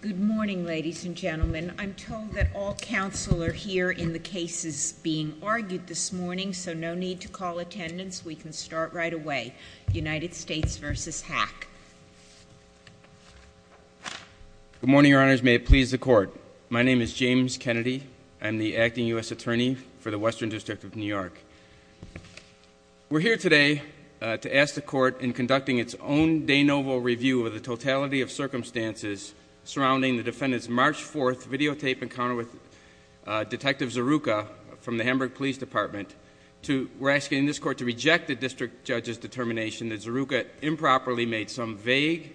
Good morning, ladies and gentlemen. I'm told that all counsel are here in the cases being argued this morning, so no need to call attendance. We can start right away. United States v. Hack. Good morning, Your Honors. May it please the Court. My name is James Kennedy. I'm the Acting U.S. Attorney for the Western District of New York. We're here today to ask the Court, in conducting its own de novo review of the totality of circumstances surrounding the defendant's March 4th videotape encounter with Detective Zaruka from the Hamburg Police Department, we're asking this Court to reject the district judge's determination that Zaruka improperly made some vague,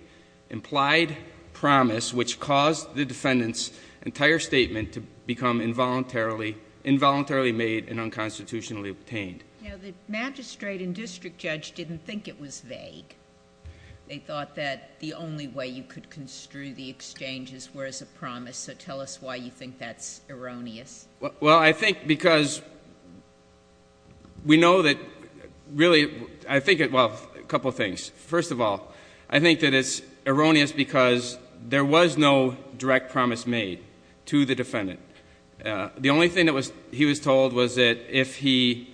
implied promise which caused the defendant's entire statement to become involuntarily made and unconstitutionally obtained. Now, the magistrate and district judge didn't think it was vague. They thought that the only way you could construe the exchanges were as a promise, so tell us why you think that's erroneous. Well, I think because we know that really, I think, well, a couple of things. First of all, I think that it's erroneous because there was no direct promise made to the defendant. The only thing that he was told was that if he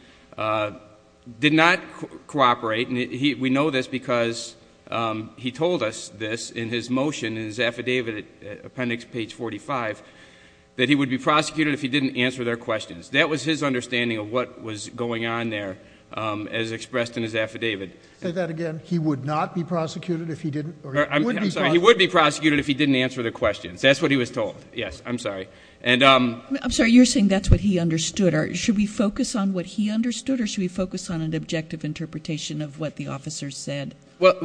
did not cooperate, and we know this because he told us this in his motion, in his affidavit, appendix page 45, that he would be prosecuted if he didn't answer their questions. That was his understanding of what was going on there as expressed in his affidavit. Say that again? He would not be prosecuted if he didn't? I'm sorry, he would be prosecuted if he didn't answer their questions. That's what he was told. Yes, I'm sorry. I'm sorry, you're saying that's what he understood. Should we focus on what he understood or should we focus on an objective interpretation of what the officer said? Well,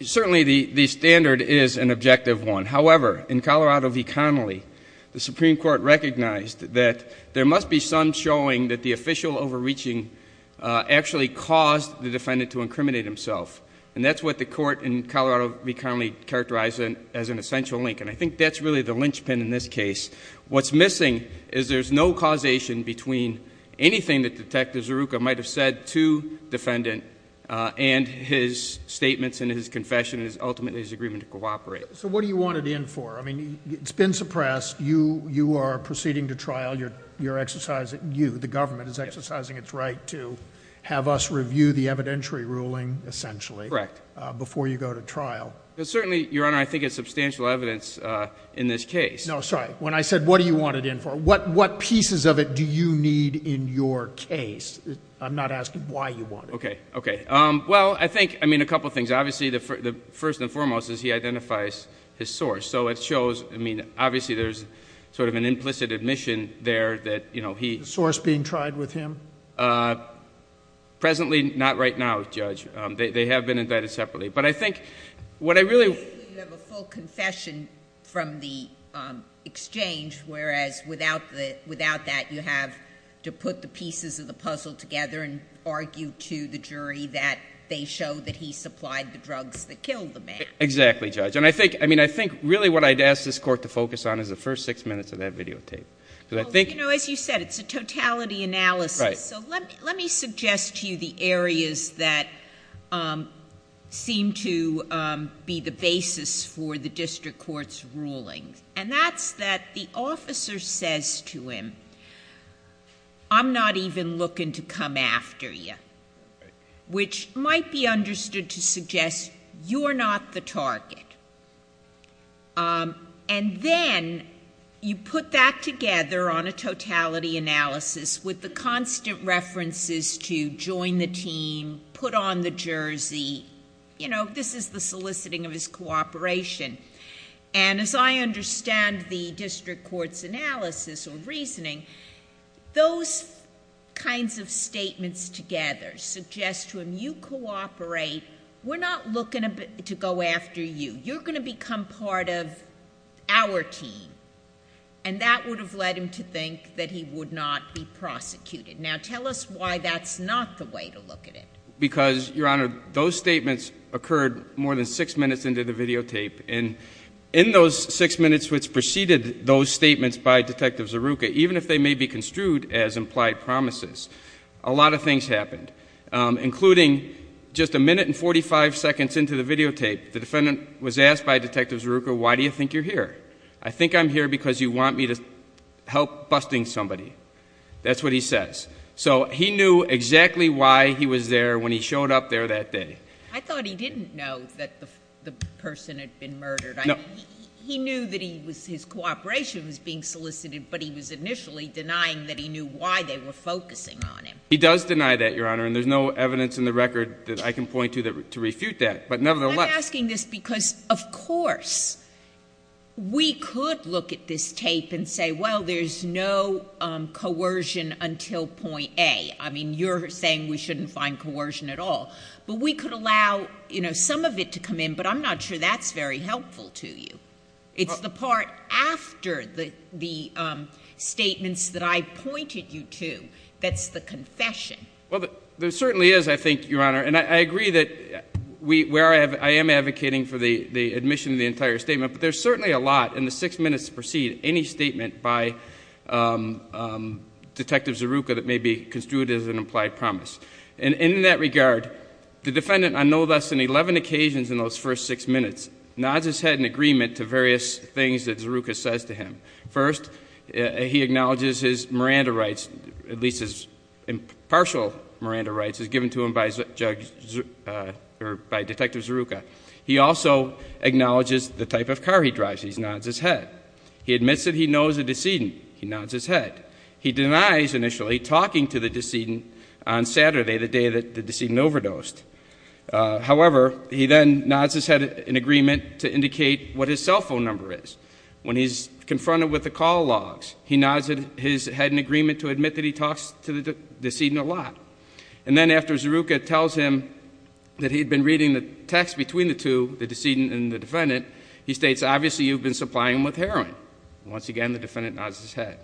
certainly the standard is an objective one. And that's what the court in Colorado v. Connolly characterized as an essential link, and I think that's really the linchpin in this case. What's missing is there's no causation between anything that Detective Zeruka might have said to defendant and his statements and his confession and ultimately his agreement to cooperate. So what do you want it in for? I mean, it's been suppressed. You are proceeding to trial. The government is exercising its right to have us review the evidentiary ruling, essentially, before you go to trial. Certainly, Your Honor, I think it's substantial evidence in this case. No, sorry. When I said what do you want it in for, what pieces of it do you need in your case? I'm not asking why you want it. Okay. Okay. Well, I think, I mean, a couple of things. Obviously, the first and foremost is he identifies his source. So it shows, I mean, obviously there's sort of an implicit admission there that he— The source being tried with him? Presently, not right now, Judge. They have been invited separately. But I think what I really— Basically, you have a full confession from the exchange, whereas without that, you have to put the pieces of the puzzle together and argue to the jury that they show that he supplied the drugs that killed the man. Exactly, Judge. And I think, I mean, I think really what I'd ask this Court to focus on is the first six minutes of that videotape. Well, you know, as you said, it's a totality analysis. Right. So let me suggest to you the areas that seem to be the basis for the district court's ruling. And that's that the officer says to him, I'm not even looking to come after you, which might be understood to suggest you're not the target. And then you put that together on a totality analysis with the constant references to join the team, put on the jersey. You know, this is the soliciting of his cooperation. And as I understand the district court's analysis or reasoning, those kinds of statements together suggest to him you cooperate. We're not looking to go after you. You're going to become part of our team. And that would have led him to think that he would not be prosecuted. Now tell us why that's not the way to look at it. Because, Your Honor, those statements occurred more than six minutes into the videotape. And in those six minutes which preceded those statements by Detective Zeruka, even if they may be construed as implied promises, a lot of things happened, including just a minute and 45 seconds into the videotape, the defendant was asked by Detective Zeruka, why do you think you're here? I think I'm here because you want me to help busting somebody. That's what he says. So he knew exactly why he was there when he showed up there that day. I thought he didn't know that the person had been murdered. He knew that his cooperation was being solicited, but he was initially denying that he knew why they were focusing on him. He does deny that, Your Honor, and there's no evidence in the record that I can point to to refute that. I'm asking this because, of course, we could look at this tape and say, well, there's no coercion until point A. I mean, you're saying we shouldn't find coercion at all. But we could allow some of it to come in, but I'm not sure that's very helpful to you. It's the part after the statements that I pointed you to that's the confession. Well, there certainly is, I think, Your Honor. And I agree that I am advocating for the admission of the entire statement, but there's certainly a lot in the six minutes to precede any statement by Detective Zeruka that may be construed as an implied promise. And in that regard, the defendant on no less than 11 occasions in those first six minutes nods his head in agreement to various things that Zeruka says to him. First, he acknowledges his Miranda rights, at least his partial Miranda rights as given to him by Detective Zeruka. He also acknowledges the type of car he drives. He nods his head. He admits that he knows the decedent. He nods his head. He denies initially talking to the decedent on Saturday, the day that the decedent overdosed. However, he then nods his head in agreement to indicate what his cell phone number is. When he's confronted with the call logs, he nods his head in agreement to admit that he talks to the decedent a lot. And then after Zeruka tells him that he had been reading the text between the two, the decedent and the defendant, he states, obviously, you've been supplying him with heroin. Once again, the defendant nods his head.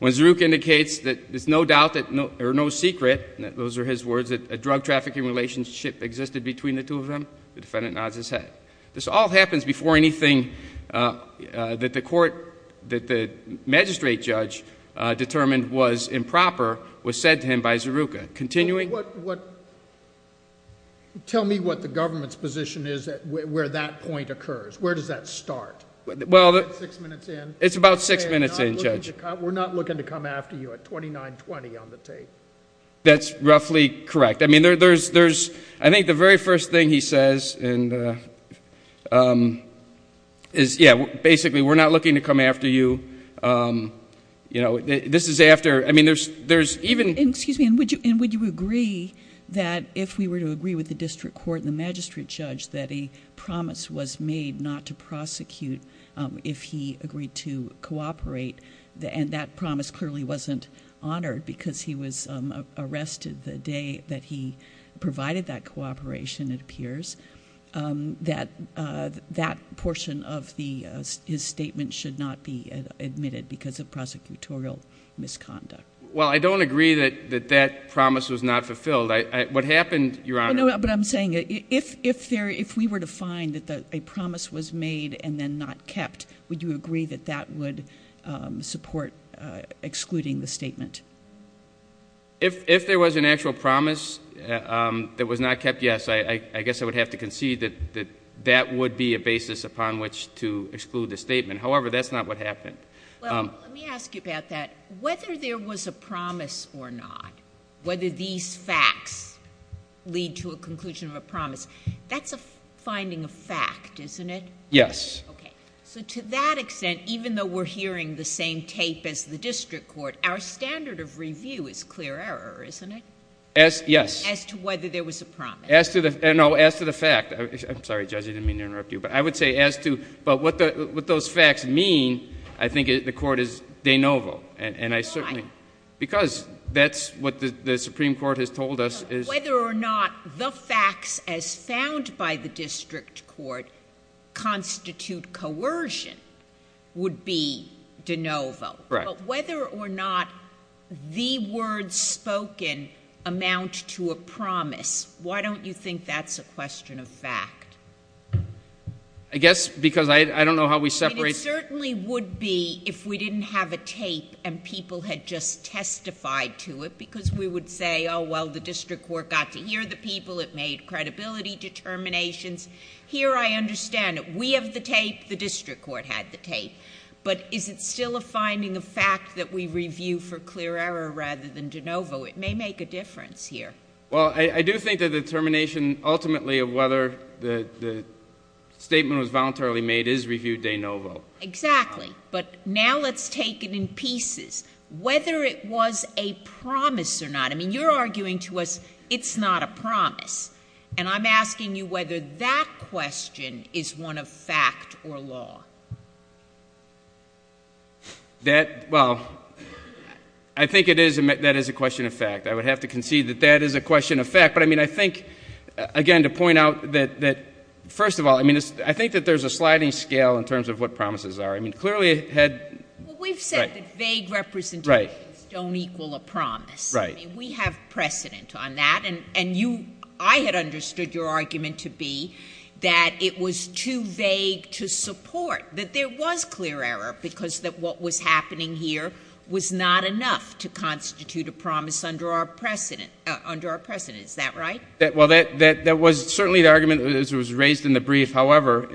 When Zeruka indicates that there's no doubt or no secret, those are his words, that a drug trafficking relationship existed between the two of them, the defendant nods his head. This all happens before anything that the magistrate judge determined was improper was said to him by Zeruka. Tell me what the government's position is where that point occurs. Where does that start? Is it six minutes in? It's about six minutes in, Judge. We're not looking to come after you at 2920 on the tape. That's roughly correct. I mean, I think the very first thing he says is, yeah, basically, we're not looking to come after you. You know, this is after, I mean, there's even. Excuse me, and would you agree that if we were to agree with the district court and the magistrate judge that a promise was made not to prosecute if he agreed to cooperate, and that promise clearly wasn't honored because he was arrested the day that he provided that cooperation, it appears, that that portion of his statement should not be admitted because of prosecutorial misconduct? Well, I don't agree that that promise was not fulfilled. What happened, Your Honor. No, but I'm saying if we were to find that a promise was made and then not kept, would you agree that that would support excluding the statement? If there was an actual promise that was not kept, yes. I guess I would have to concede that that would be a basis upon which to exclude the statement. However, that's not what happened. Well, let me ask you about that. Whether there was a promise or not, whether these facts lead to a conclusion of a promise, that's a finding of fact, isn't it? Yes. Okay. So to that extent, even though we're hearing the same tape as the district court, our standard of review is clear error, isn't it? Yes. As to whether there was a promise. No, as to the fact. I'm sorry, Judge, I didn't mean to interrupt you. But I would say as to what those facts mean, I think the court is de novo. Why? Because that's what the Supreme Court has told us. Whether or not the facts as found by the district court constitute coercion would be de novo. Right. But whether or not the words spoken amount to a promise, why don't you think that's a question of fact? I guess because I don't know how we separate. It certainly would be if we didn't have a tape and people had just testified to it because we would say, oh, well, the district court got to hear the people. It made credibility determinations. Here I understand it. The district court had the tape. But is it still a finding of fact that we review for clear error rather than de novo? It may make a difference here. Well, I do think the determination ultimately of whether the statement was voluntarily made is review de novo. Exactly. But now let's take it in pieces. Whether it was a promise or not, I mean, you're arguing to us it's not a promise. And I'm asking you whether that question is one of fact or law. That, well, I think that is a question of fact. I would have to concede that that is a question of fact. But, I mean, I think, again, to point out that, first of all, I mean, I think that there's a sliding scale in terms of what promises are. I mean, clearly it had. Well, we've said that vague representations don't equal a promise. Right. I mean, we have precedent on that. And you, I had understood your argument to be that it was too vague to support, that there was clear error because what was happening here was not enough to constitute a promise under our precedent. Is that right? Well, that was certainly the argument that was raised in the brief. However,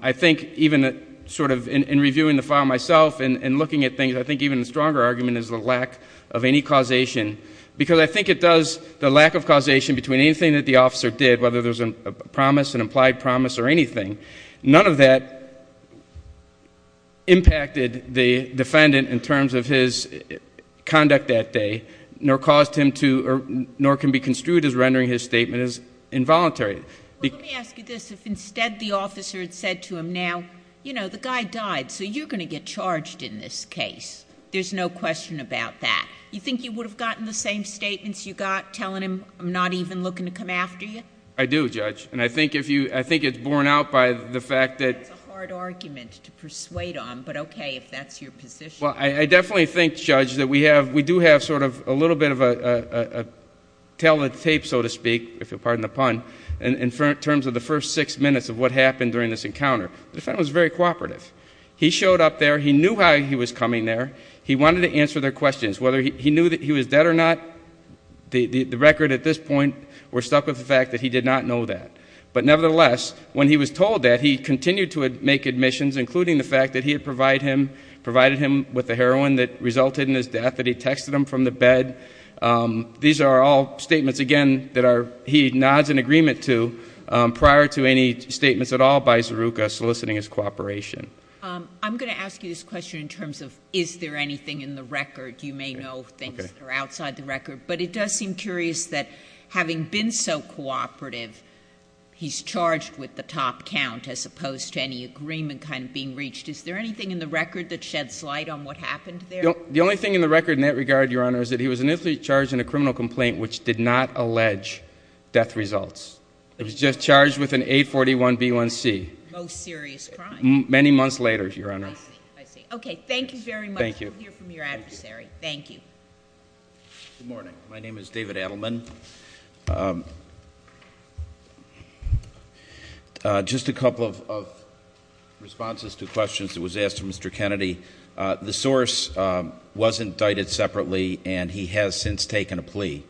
I think even sort of in reviewing the file myself and looking at things, I think even the stronger argument is the lack of any causation. Because I think it does, the lack of causation between anything that the officer did, whether there's a promise, an implied promise, or anything, none of that impacted the defendant in terms of his conduct that day, nor caused him to, nor can be construed as rendering his statement as involuntary. Well, let me ask you this. If instead the officer had said to him, now, you know, the guy died, so you're going to get charged in this case. There's no question about that. You think you would have gotten the same statements you got telling him, I'm not even looking to come after you? I do, Judge. And I think if you, I think it's borne out by the fact that... That's a hard argument to persuade on. But okay, if that's your position. Well, I definitely think, Judge, that we have, we do have sort of a little bit of a tell-the-tape, so to speak, if you'll pardon the pun, in terms of the first six minutes of what happened during this encounter. The defendant was very cooperative. He showed up there. He knew how he was coming there. He wanted to answer their questions, whether he knew that he was dead or not. The record at this point, we're stuck with the fact that he did not know that. But nevertheless, when he was told that, he continued to make admissions, including the fact that he had provided him with the heroin that resulted in his death, that he texted him from the bed. These are all statements, again, that he nods in agreement to prior to any statements at all by Zeruka soliciting his cooperation. I'm going to ask you this question in terms of is there anything in the record. You may know things that are outside the record. But it does seem curious that having been so cooperative, he's charged with the top count as opposed to any agreement kind of being reached. Is there anything in the record that sheds light on what happened there? The only thing in the record in that regard, Your Honor, is that he was initially charged in a criminal complaint which did not allege death results. It was just charged with an A41B1C. Most serious crime. Many months later, Your Honor. I see. I see. Okay, thank you very much. Thank you. We'll hear from your adversary. Thank you. Good morning. My name is David Adelman. Just a couple of responses to questions that was asked of Mr. Kennedy. The source was indicted separately, and he has since taken a plea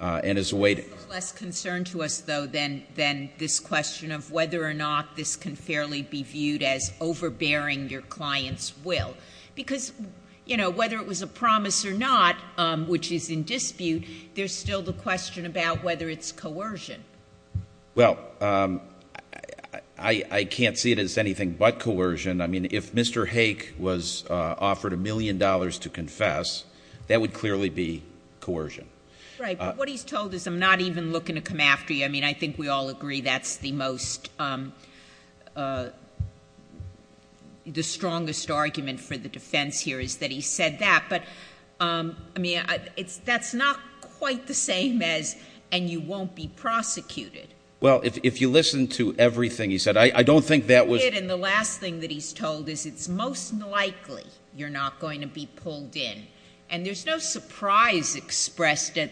and is awaiting- There's less concern to us, though, than this question of whether or not this can fairly be viewed as overbearing your client's will. Because, you know, whether it was a promise or not, which is in dispute, there's still the question about whether it's coercion. Well, I can't see it as anything but coercion. I mean, if Mr. Hake was offered a million dollars to confess, that would clearly be coercion. Right, but what he's told is I'm not even looking to come after you. I mean, I think we all agree that's the most-the strongest argument for the defense here is that he said that. But, I mean, that's not quite the same as and you won't be prosecuted. Well, if you listen to everything he said, I don't think that was- And the last thing that he's told is it's most likely you're not going to be pulled in. And there's no surprise expressed at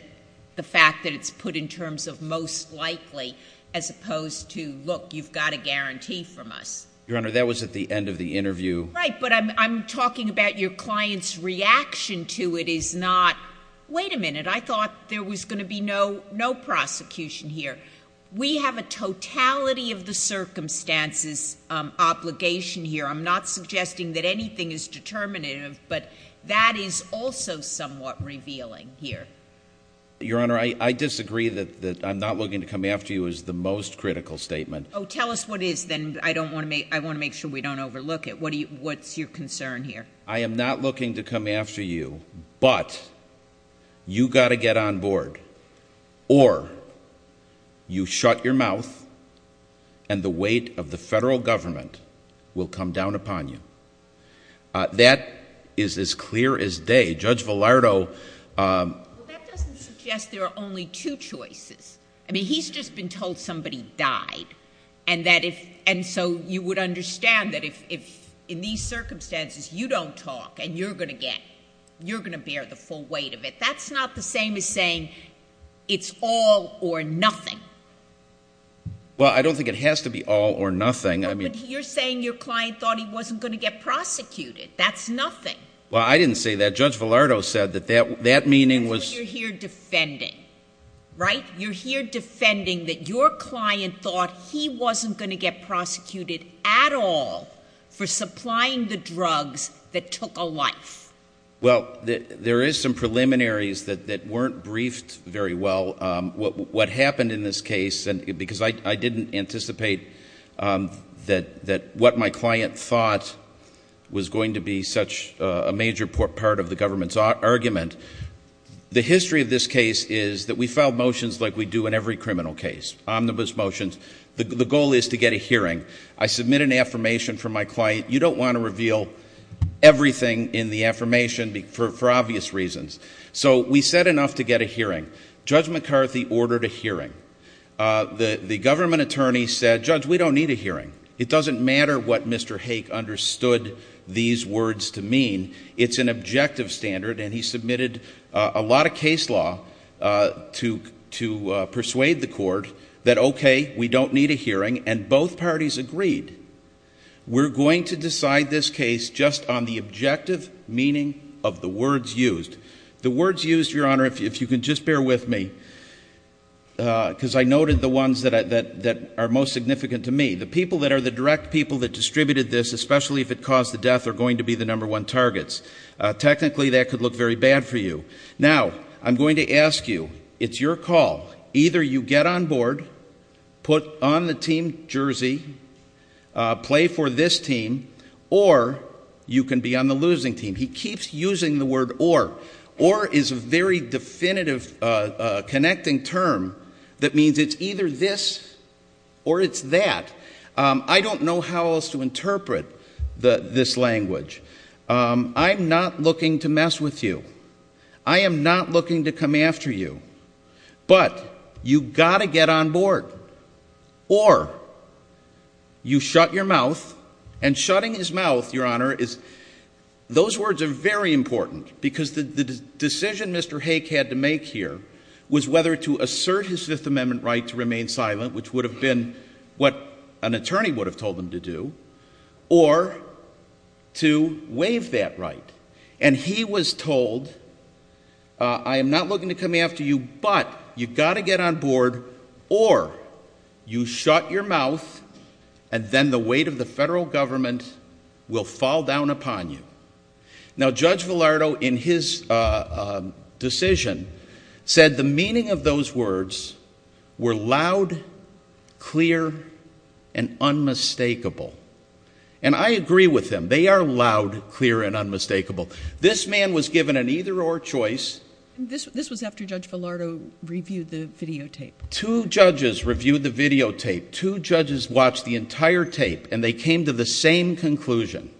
the fact that it's put in terms of most likely as opposed to, look, you've got a guarantee from us. Your Honor, that was at the end of the interview. Right, but I'm talking about your client's reaction to it is not, wait a minute, I thought there was going to be no prosecution here. We have a totality of the circumstances obligation here. I'm not suggesting that anything is determinative, but that is also somewhat revealing here. Your Honor, I disagree that I'm not looking to come after you is the most critical statement. Oh, tell us what it is then. I want to make sure we don't overlook it. What's your concern here? I am not looking to come after you, but you've got to get on board or you shut your mouth and the weight of the federal government will come down upon you. That is as clear as day. Judge Villardo- Well, that doesn't suggest there are only two choices. I mean, he's just been told somebody died, and so you would understand that if in these circumstances you don't talk and you're going to get, you're going to bear the full weight of it. That's not the same as saying it's all or nothing. Well, I don't think it has to be all or nothing. But you're saying your client thought he wasn't going to get prosecuted. That's nothing. Well, I didn't say that. Judge Villardo said that that meaning was- You're here defending that your client thought he wasn't going to get prosecuted at all for supplying the drugs that took a life. Well, there is some preliminaries that weren't briefed very well. What happened in this case, because I didn't anticipate that what my client thought was going to be such a major part of the government's argument. The history of this case is that we file motions like we do in every criminal case, omnibus motions. The goal is to get a hearing. I submit an affirmation from my client. You don't want to reveal everything in the affirmation for obvious reasons. So we said enough to get a hearing. Judge McCarthy ordered a hearing. The government attorney said, Judge, we don't need a hearing. It doesn't matter what Mr. Hake understood these words to mean. It's an objective standard, and he submitted a lot of case law to persuade the court that, okay, we don't need a hearing, and both parties agreed. We're going to decide this case just on the objective meaning of the words used. The words used, Your Honor, if you can just bear with me, because I noted the ones that are most significant to me. The people that are the direct people that distributed this, especially if it caused the death, are going to be the number one targets. Technically, that could look very bad for you. Now, I'm going to ask you, it's your call. Either you get on board, put on the team jersey, play for this team, or you can be on the losing team. He keeps using the word or. Or is a very definitive connecting term that means it's either this or it's that. I don't know how else to interpret this language. I'm not looking to mess with you. I am not looking to come after you. But you've got to get on board. Or you shut your mouth, and shutting his mouth, Your Honor, those words are very important, because the decision Mr. Hake had to make here was whether to assert his Fifth Amendment right to remain silent, which would have been what an attorney would have told him to do, or to waive that right. And he was told, I am not looking to come after you, but you've got to get on board, or you shut your mouth, and then the weight of the federal government will fall down upon you. Now, Judge Villardo, in his decision, said the meaning of those words were loud, clear, and unmistakable. And I agree with him. They are loud, clear, and unmistakable. This man was given an either-or choice. This was after Judge Villardo reviewed the videotape. Two judges reviewed the videotape. Two judges watched the entire tape, and they came to the same conclusion,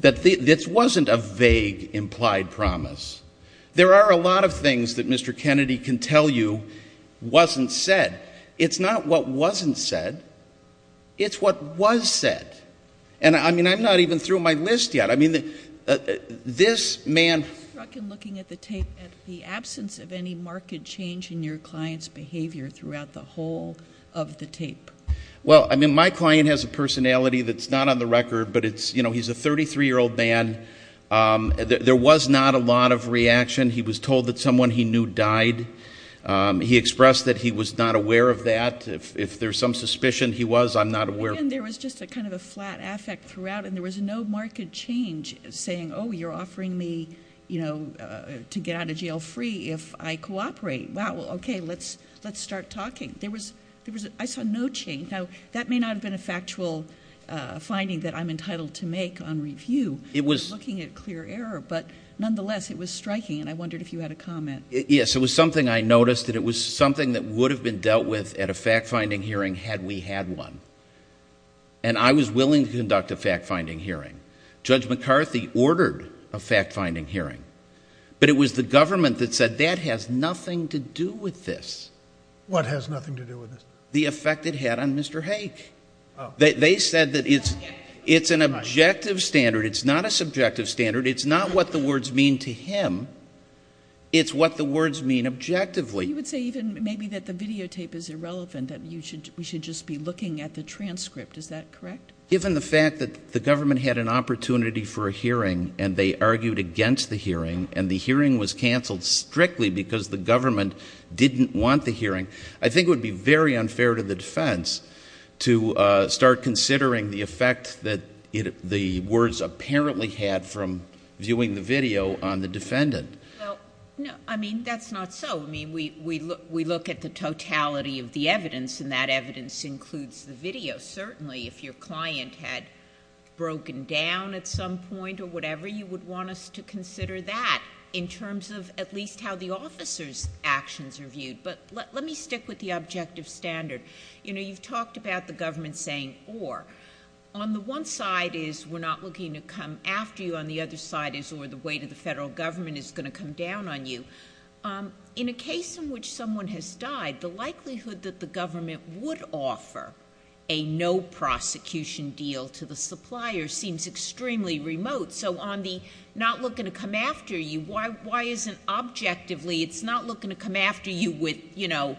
that this wasn't a vague implied promise. There are a lot of things that Mr. Kennedy can tell you wasn't said. It's not what wasn't said. It's what was said. And, I mean, I'm not even through my list yet. I mean, this man- I was struck in looking at the tape at the absence of any marked change in your client's behavior throughout the whole of the tape. Well, I mean, my client has a personality that's not on the record, but it's, you know, he's a 33-year-old man. There was not a lot of reaction. He was told that someone he knew died. He expressed that he was not aware of that. If there's some suspicion he was, I'm not aware. And there was just a kind of a flat affect throughout, and there was no marked change saying, oh, you're offering me, you know, to get out of jail free if I cooperate. Wow, okay, let's start talking. There was-I saw no change. Now, that may not have been a factual finding that I'm entitled to make on review. It was- I'm looking at clear error, but nonetheless, it was striking, and I wondered if you had a comment. Yes, it was something I noticed, and it was something that would have been dealt with at a fact-finding hearing had we had one. And I was willing to conduct a fact-finding hearing. Judge McCarthy ordered a fact-finding hearing, but it was the government that said that has nothing to do with this. What has nothing to do with this? The effect it had on Mr. Hake. They said that it's an objective standard. It's not a subjective standard. It's not what the words mean to him. It's what the words mean objectively. You would say even maybe that the videotape is irrelevant, that we should just be looking at the transcript. Is that correct? Given the fact that the government had an opportunity for a hearing, and they argued against the hearing, and the hearing was canceled strictly because the government didn't want the hearing, I think it would be very unfair to the defense to start considering the effect that the words apparently had from viewing the video on the defendant. Well, I mean, that's not so. I mean, we look at the totality of the evidence, and that evidence includes the video. Certainly, if your client had broken down at some point or whatever, you would want us to consider that in terms of at least how the officer's actions are viewed. But let me stick with the objective standard. You know, you've talked about the government saying or. On the one side is we're not looking to come after you. On the other side is or the weight of the federal government is going to come down on you. In a case in which someone has died, the likelihood that the government would offer a no-prosecution deal to the supplier seems extremely remote. So on the not looking to come after you, why isn't objectively it's not looking to come after you with, you know,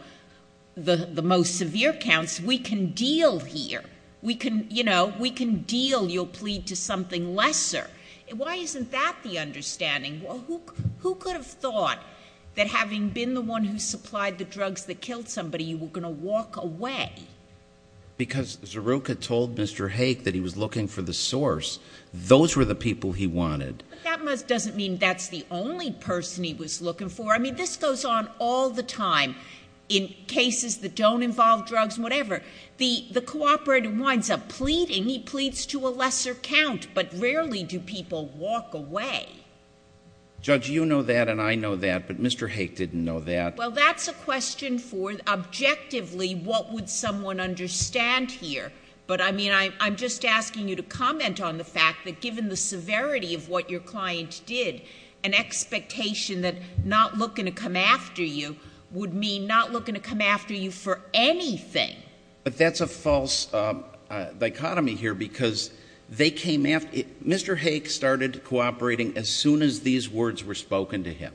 the most severe counts? We can deal here. We can, you know, we can deal your plea to something lesser. Why isn't that the understanding? Who could have thought that having been the one who supplied the drugs that killed somebody, you were going to walk away? Because Zaruka told Mr. Hake that he was looking for the source. Those were the people he wanted. But that doesn't mean that's the only person he was looking for. I mean, this goes on all the time in cases that don't involve drugs and whatever. The cooperator winds up pleading. He pleads to a lesser count, but rarely do people walk away. Judge, you know that and I know that, but Mr. Hake didn't know that. Well, that's a question for objectively what would someone understand here. But, I mean, I'm just asking you to comment on the fact that given the severity of what your client did, an expectation that not looking to come after you would mean not looking to come after you for anything. But that's a false dichotomy here because they came after. Mr. Hake started cooperating as soon as these words were spoken to him.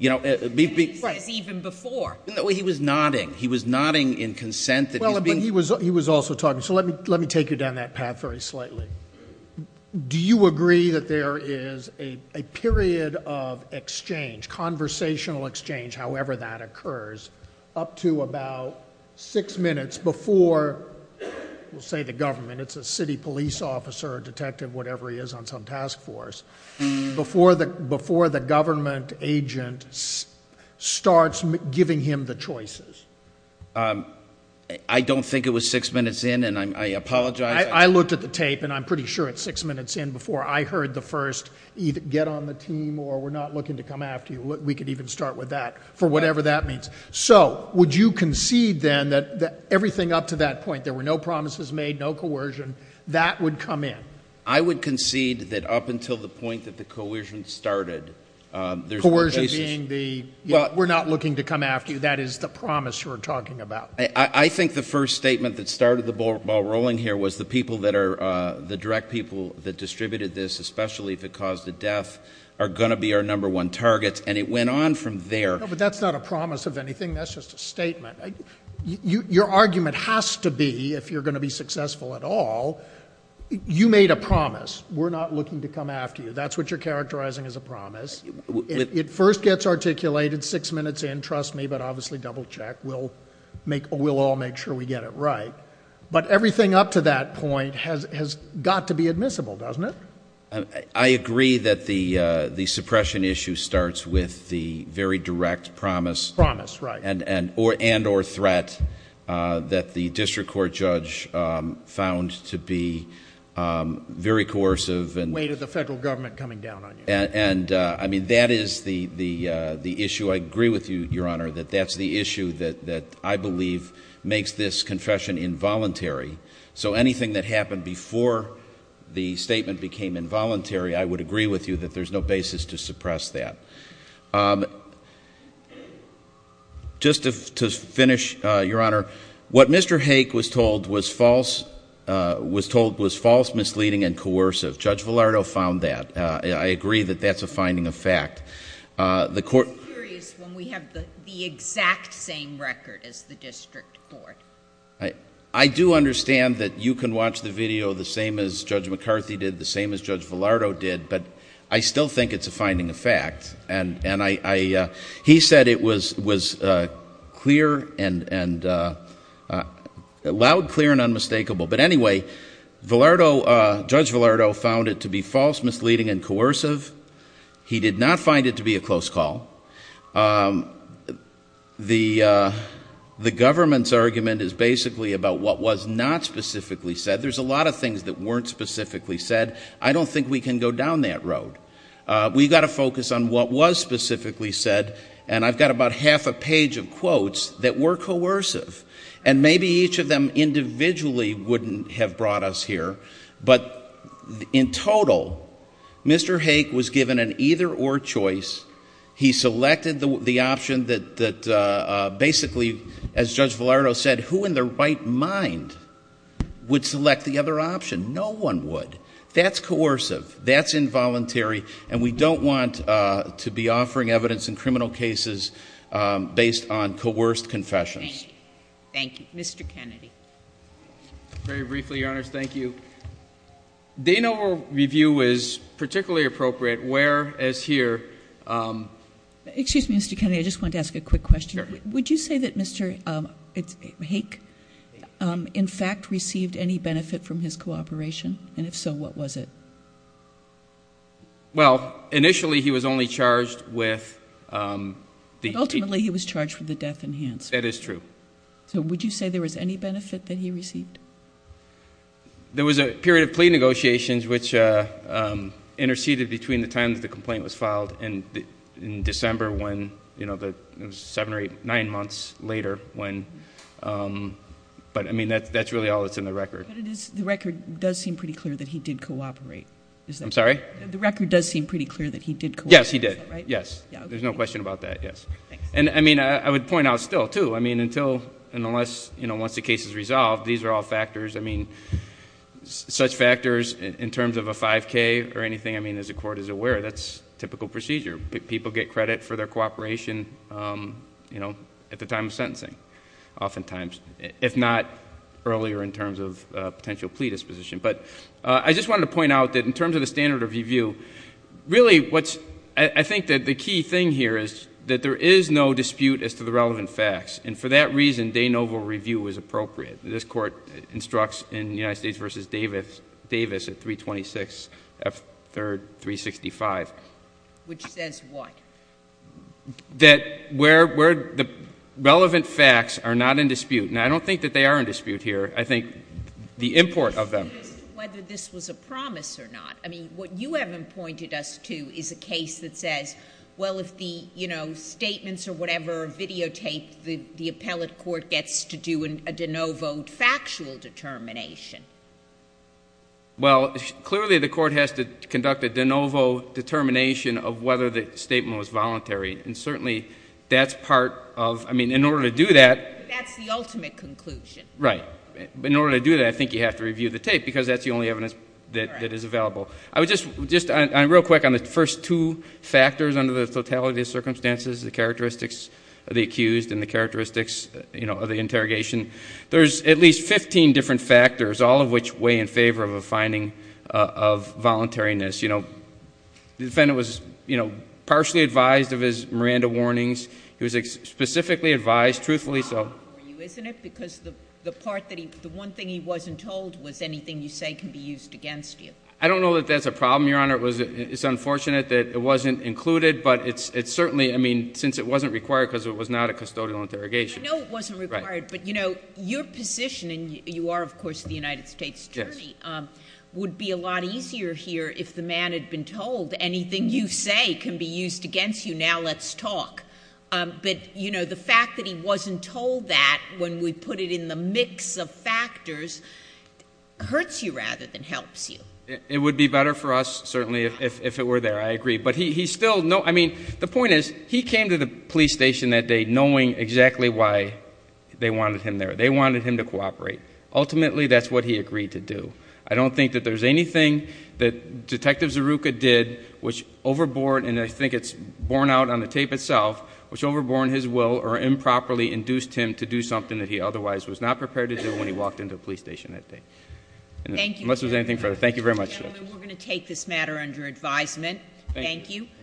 And he says even before. No, he was nodding. He was nodding in consent. Well, but he was also talking. So let me take you down that path very slightly. Do you agree that there is a period of exchange, conversational exchange, however that occurs, up to about six minutes before, we'll say the government, it's a city police officer, a detective, whatever he is on some task force, before the government agent starts giving him the choices? I don't think it was six minutes in and I apologize. I looked at the tape and I'm pretty sure it's six minutes in before I heard the first get on the team or we're not looking to come after you. We could even start with that for whatever that means. So would you concede then that everything up to that point, there were no promises made, no coercion, that would come in? I would concede that up until the point that the coercion started, there's no basis. Coercion being the we're not looking to come after you. That is the promise you were talking about. I think the first statement that started the ball rolling here was the people that are, the direct people that distributed this, especially if it caused a death, are going to be our number one target. And it went on from there. No, but that's not a promise of anything. That's just a statement. Your argument has to be, if you're going to be successful at all, you made a promise. We're not looking to come after you. That's what you're characterizing as a promise. It first gets articulated six minutes in, trust me, but obviously double check. We'll all make sure we get it right. But everything up to that point has got to be admissible, doesn't it? I agree that the suppression issue starts with the very direct promise. Promise, right. And or threat that the district court judge found to be very coercive. Weight of the federal government coming down on you. And, I mean, that is the issue. I agree with you, Your Honor, that that's the issue that I believe makes this confession involuntary. So anything that happened before the statement became involuntary, I would agree with you that there's no basis to suppress that. Just to finish, Your Honor, what Mr. Hake was told was false misleading and coercive. Judge Villardo found that. I agree that that's a finding of fact. I'm just curious when we have the exact same record as the district court. I do understand that you can watch the video the same as Judge McCarthy did, the same as Judge Villardo did, but I still think it's a finding of fact. He said it was loud, clear, and unmistakable. But anyway, Judge Villardo found it to be false misleading and coercive. He did not find it to be a close call. The government's argument is basically about what was not specifically said. There's a lot of things that weren't specifically said. I don't think we can go down that road. We've got to focus on what was specifically said, and I've got about half a page of quotes that were coercive. And maybe each of them individually wouldn't have brought us here. But in total, Mr. Hake was given an either-or choice. He selected the option that basically, as Judge Villardo said, who in their right mind would select the other option? No one would. That's coercive. That's involuntary. And we don't want to be offering evidence in criminal cases based on coerced confessions. Thank you. Thank you. Mr. Kennedy. Very briefly, Your Honors, thank you. Dana review is particularly appropriate, whereas here ---- Excuse me, Mr. Kennedy. I just wanted to ask a quick question. Would you say that Mr. Hake in fact received any benefit from his cooperation? And if so, what was it? Well, initially he was only charged with the ---- Ultimately he was charged with the death enhancement. That is true. So would you say there was any benefit that he received? There was a period of plea negotiations which interceded between the time that the complaint was filed and in December, when it was seven or eight, nine months later when ---- But, I mean, that's really all that's in the record. But the record does seem pretty clear that he did cooperate. I'm sorry? The record does seem pretty clear that he did cooperate. Yes, he did. Yes. There's no question about that, yes. And, I mean, I would point out still, too, I mean, until and unless, you know, once the case is resolved, these are all factors. I mean, such factors in terms of a 5K or anything, I mean, as the Court is aware, that's typical procedure. People get credit for their cooperation, you know, at the time of sentencing, oftentimes, if not earlier in terms of potential plea disposition. But I just wanted to point out that in terms of the standard of review, really what's ---- I think that the key thing here is that there is no dispute as to the relevant facts. And for that reason, de novo review is appropriate. This Court instructs in United States v. Davis at 326 F. 3rd. 365. Which says what? That where the relevant facts are not in dispute. Now, I don't think that they are in dispute here. I think the import of them. Whether this was a promise or not. I mean, what you haven't pointed us to is a case that says, well, if the, you know, statements or whatever are videotaped, the appellate court gets to do a de novo factual determination. Well, clearly the court has to conduct a de novo determination of whether the statement was voluntary. And certainly, that's part of, I mean, in order to do that. That's the ultimate conclusion. Right. But in order to do that, I think you have to review the tape, because that's the only evidence that is available. I would just, real quick, on the first two factors under the totality of circumstances, the characteristics of the accused and the characteristics, you know, of the interrogation, there's at least 15 different factors, all of which weigh in favor of a finding of voluntariness. You know, the defendant was, you know, partially advised of his Miranda warnings. He was specifically advised, truthfully so. It's a problem for you, isn't it? Because the part that he, the one thing he wasn't told was anything you say can be used against you. I don't know that that's a problem, Your Honor. It's unfortunate that it wasn't included. But it's certainly, I mean, since it wasn't required, because it was not a custodial interrogation. I know it wasn't required, but, you know, your position, and you are, of course, the United States attorney, would be a lot easier here if the man had been told anything you say can be used against you, now let's talk. But, you know, the fact that he wasn't told that when we put it in the mix of factors hurts you rather than helps you. It would be better for us, certainly, if it were there. I agree. But he still, I mean, the point is, he came to the police station that day knowing exactly why they wanted him there. They wanted him to cooperate. Ultimately, that's what he agreed to do. I don't think that there's anything that Detective Zeruka did which overbore, and I think it's borne out on the tape itself, which overbore his will or improperly induced him to do something that he otherwise was not prepared to do when he walked into a police station that day. Thank you. Unless there's anything further. Thank you very much. Gentlemen, we're going to take this matter under advisement. Thank you.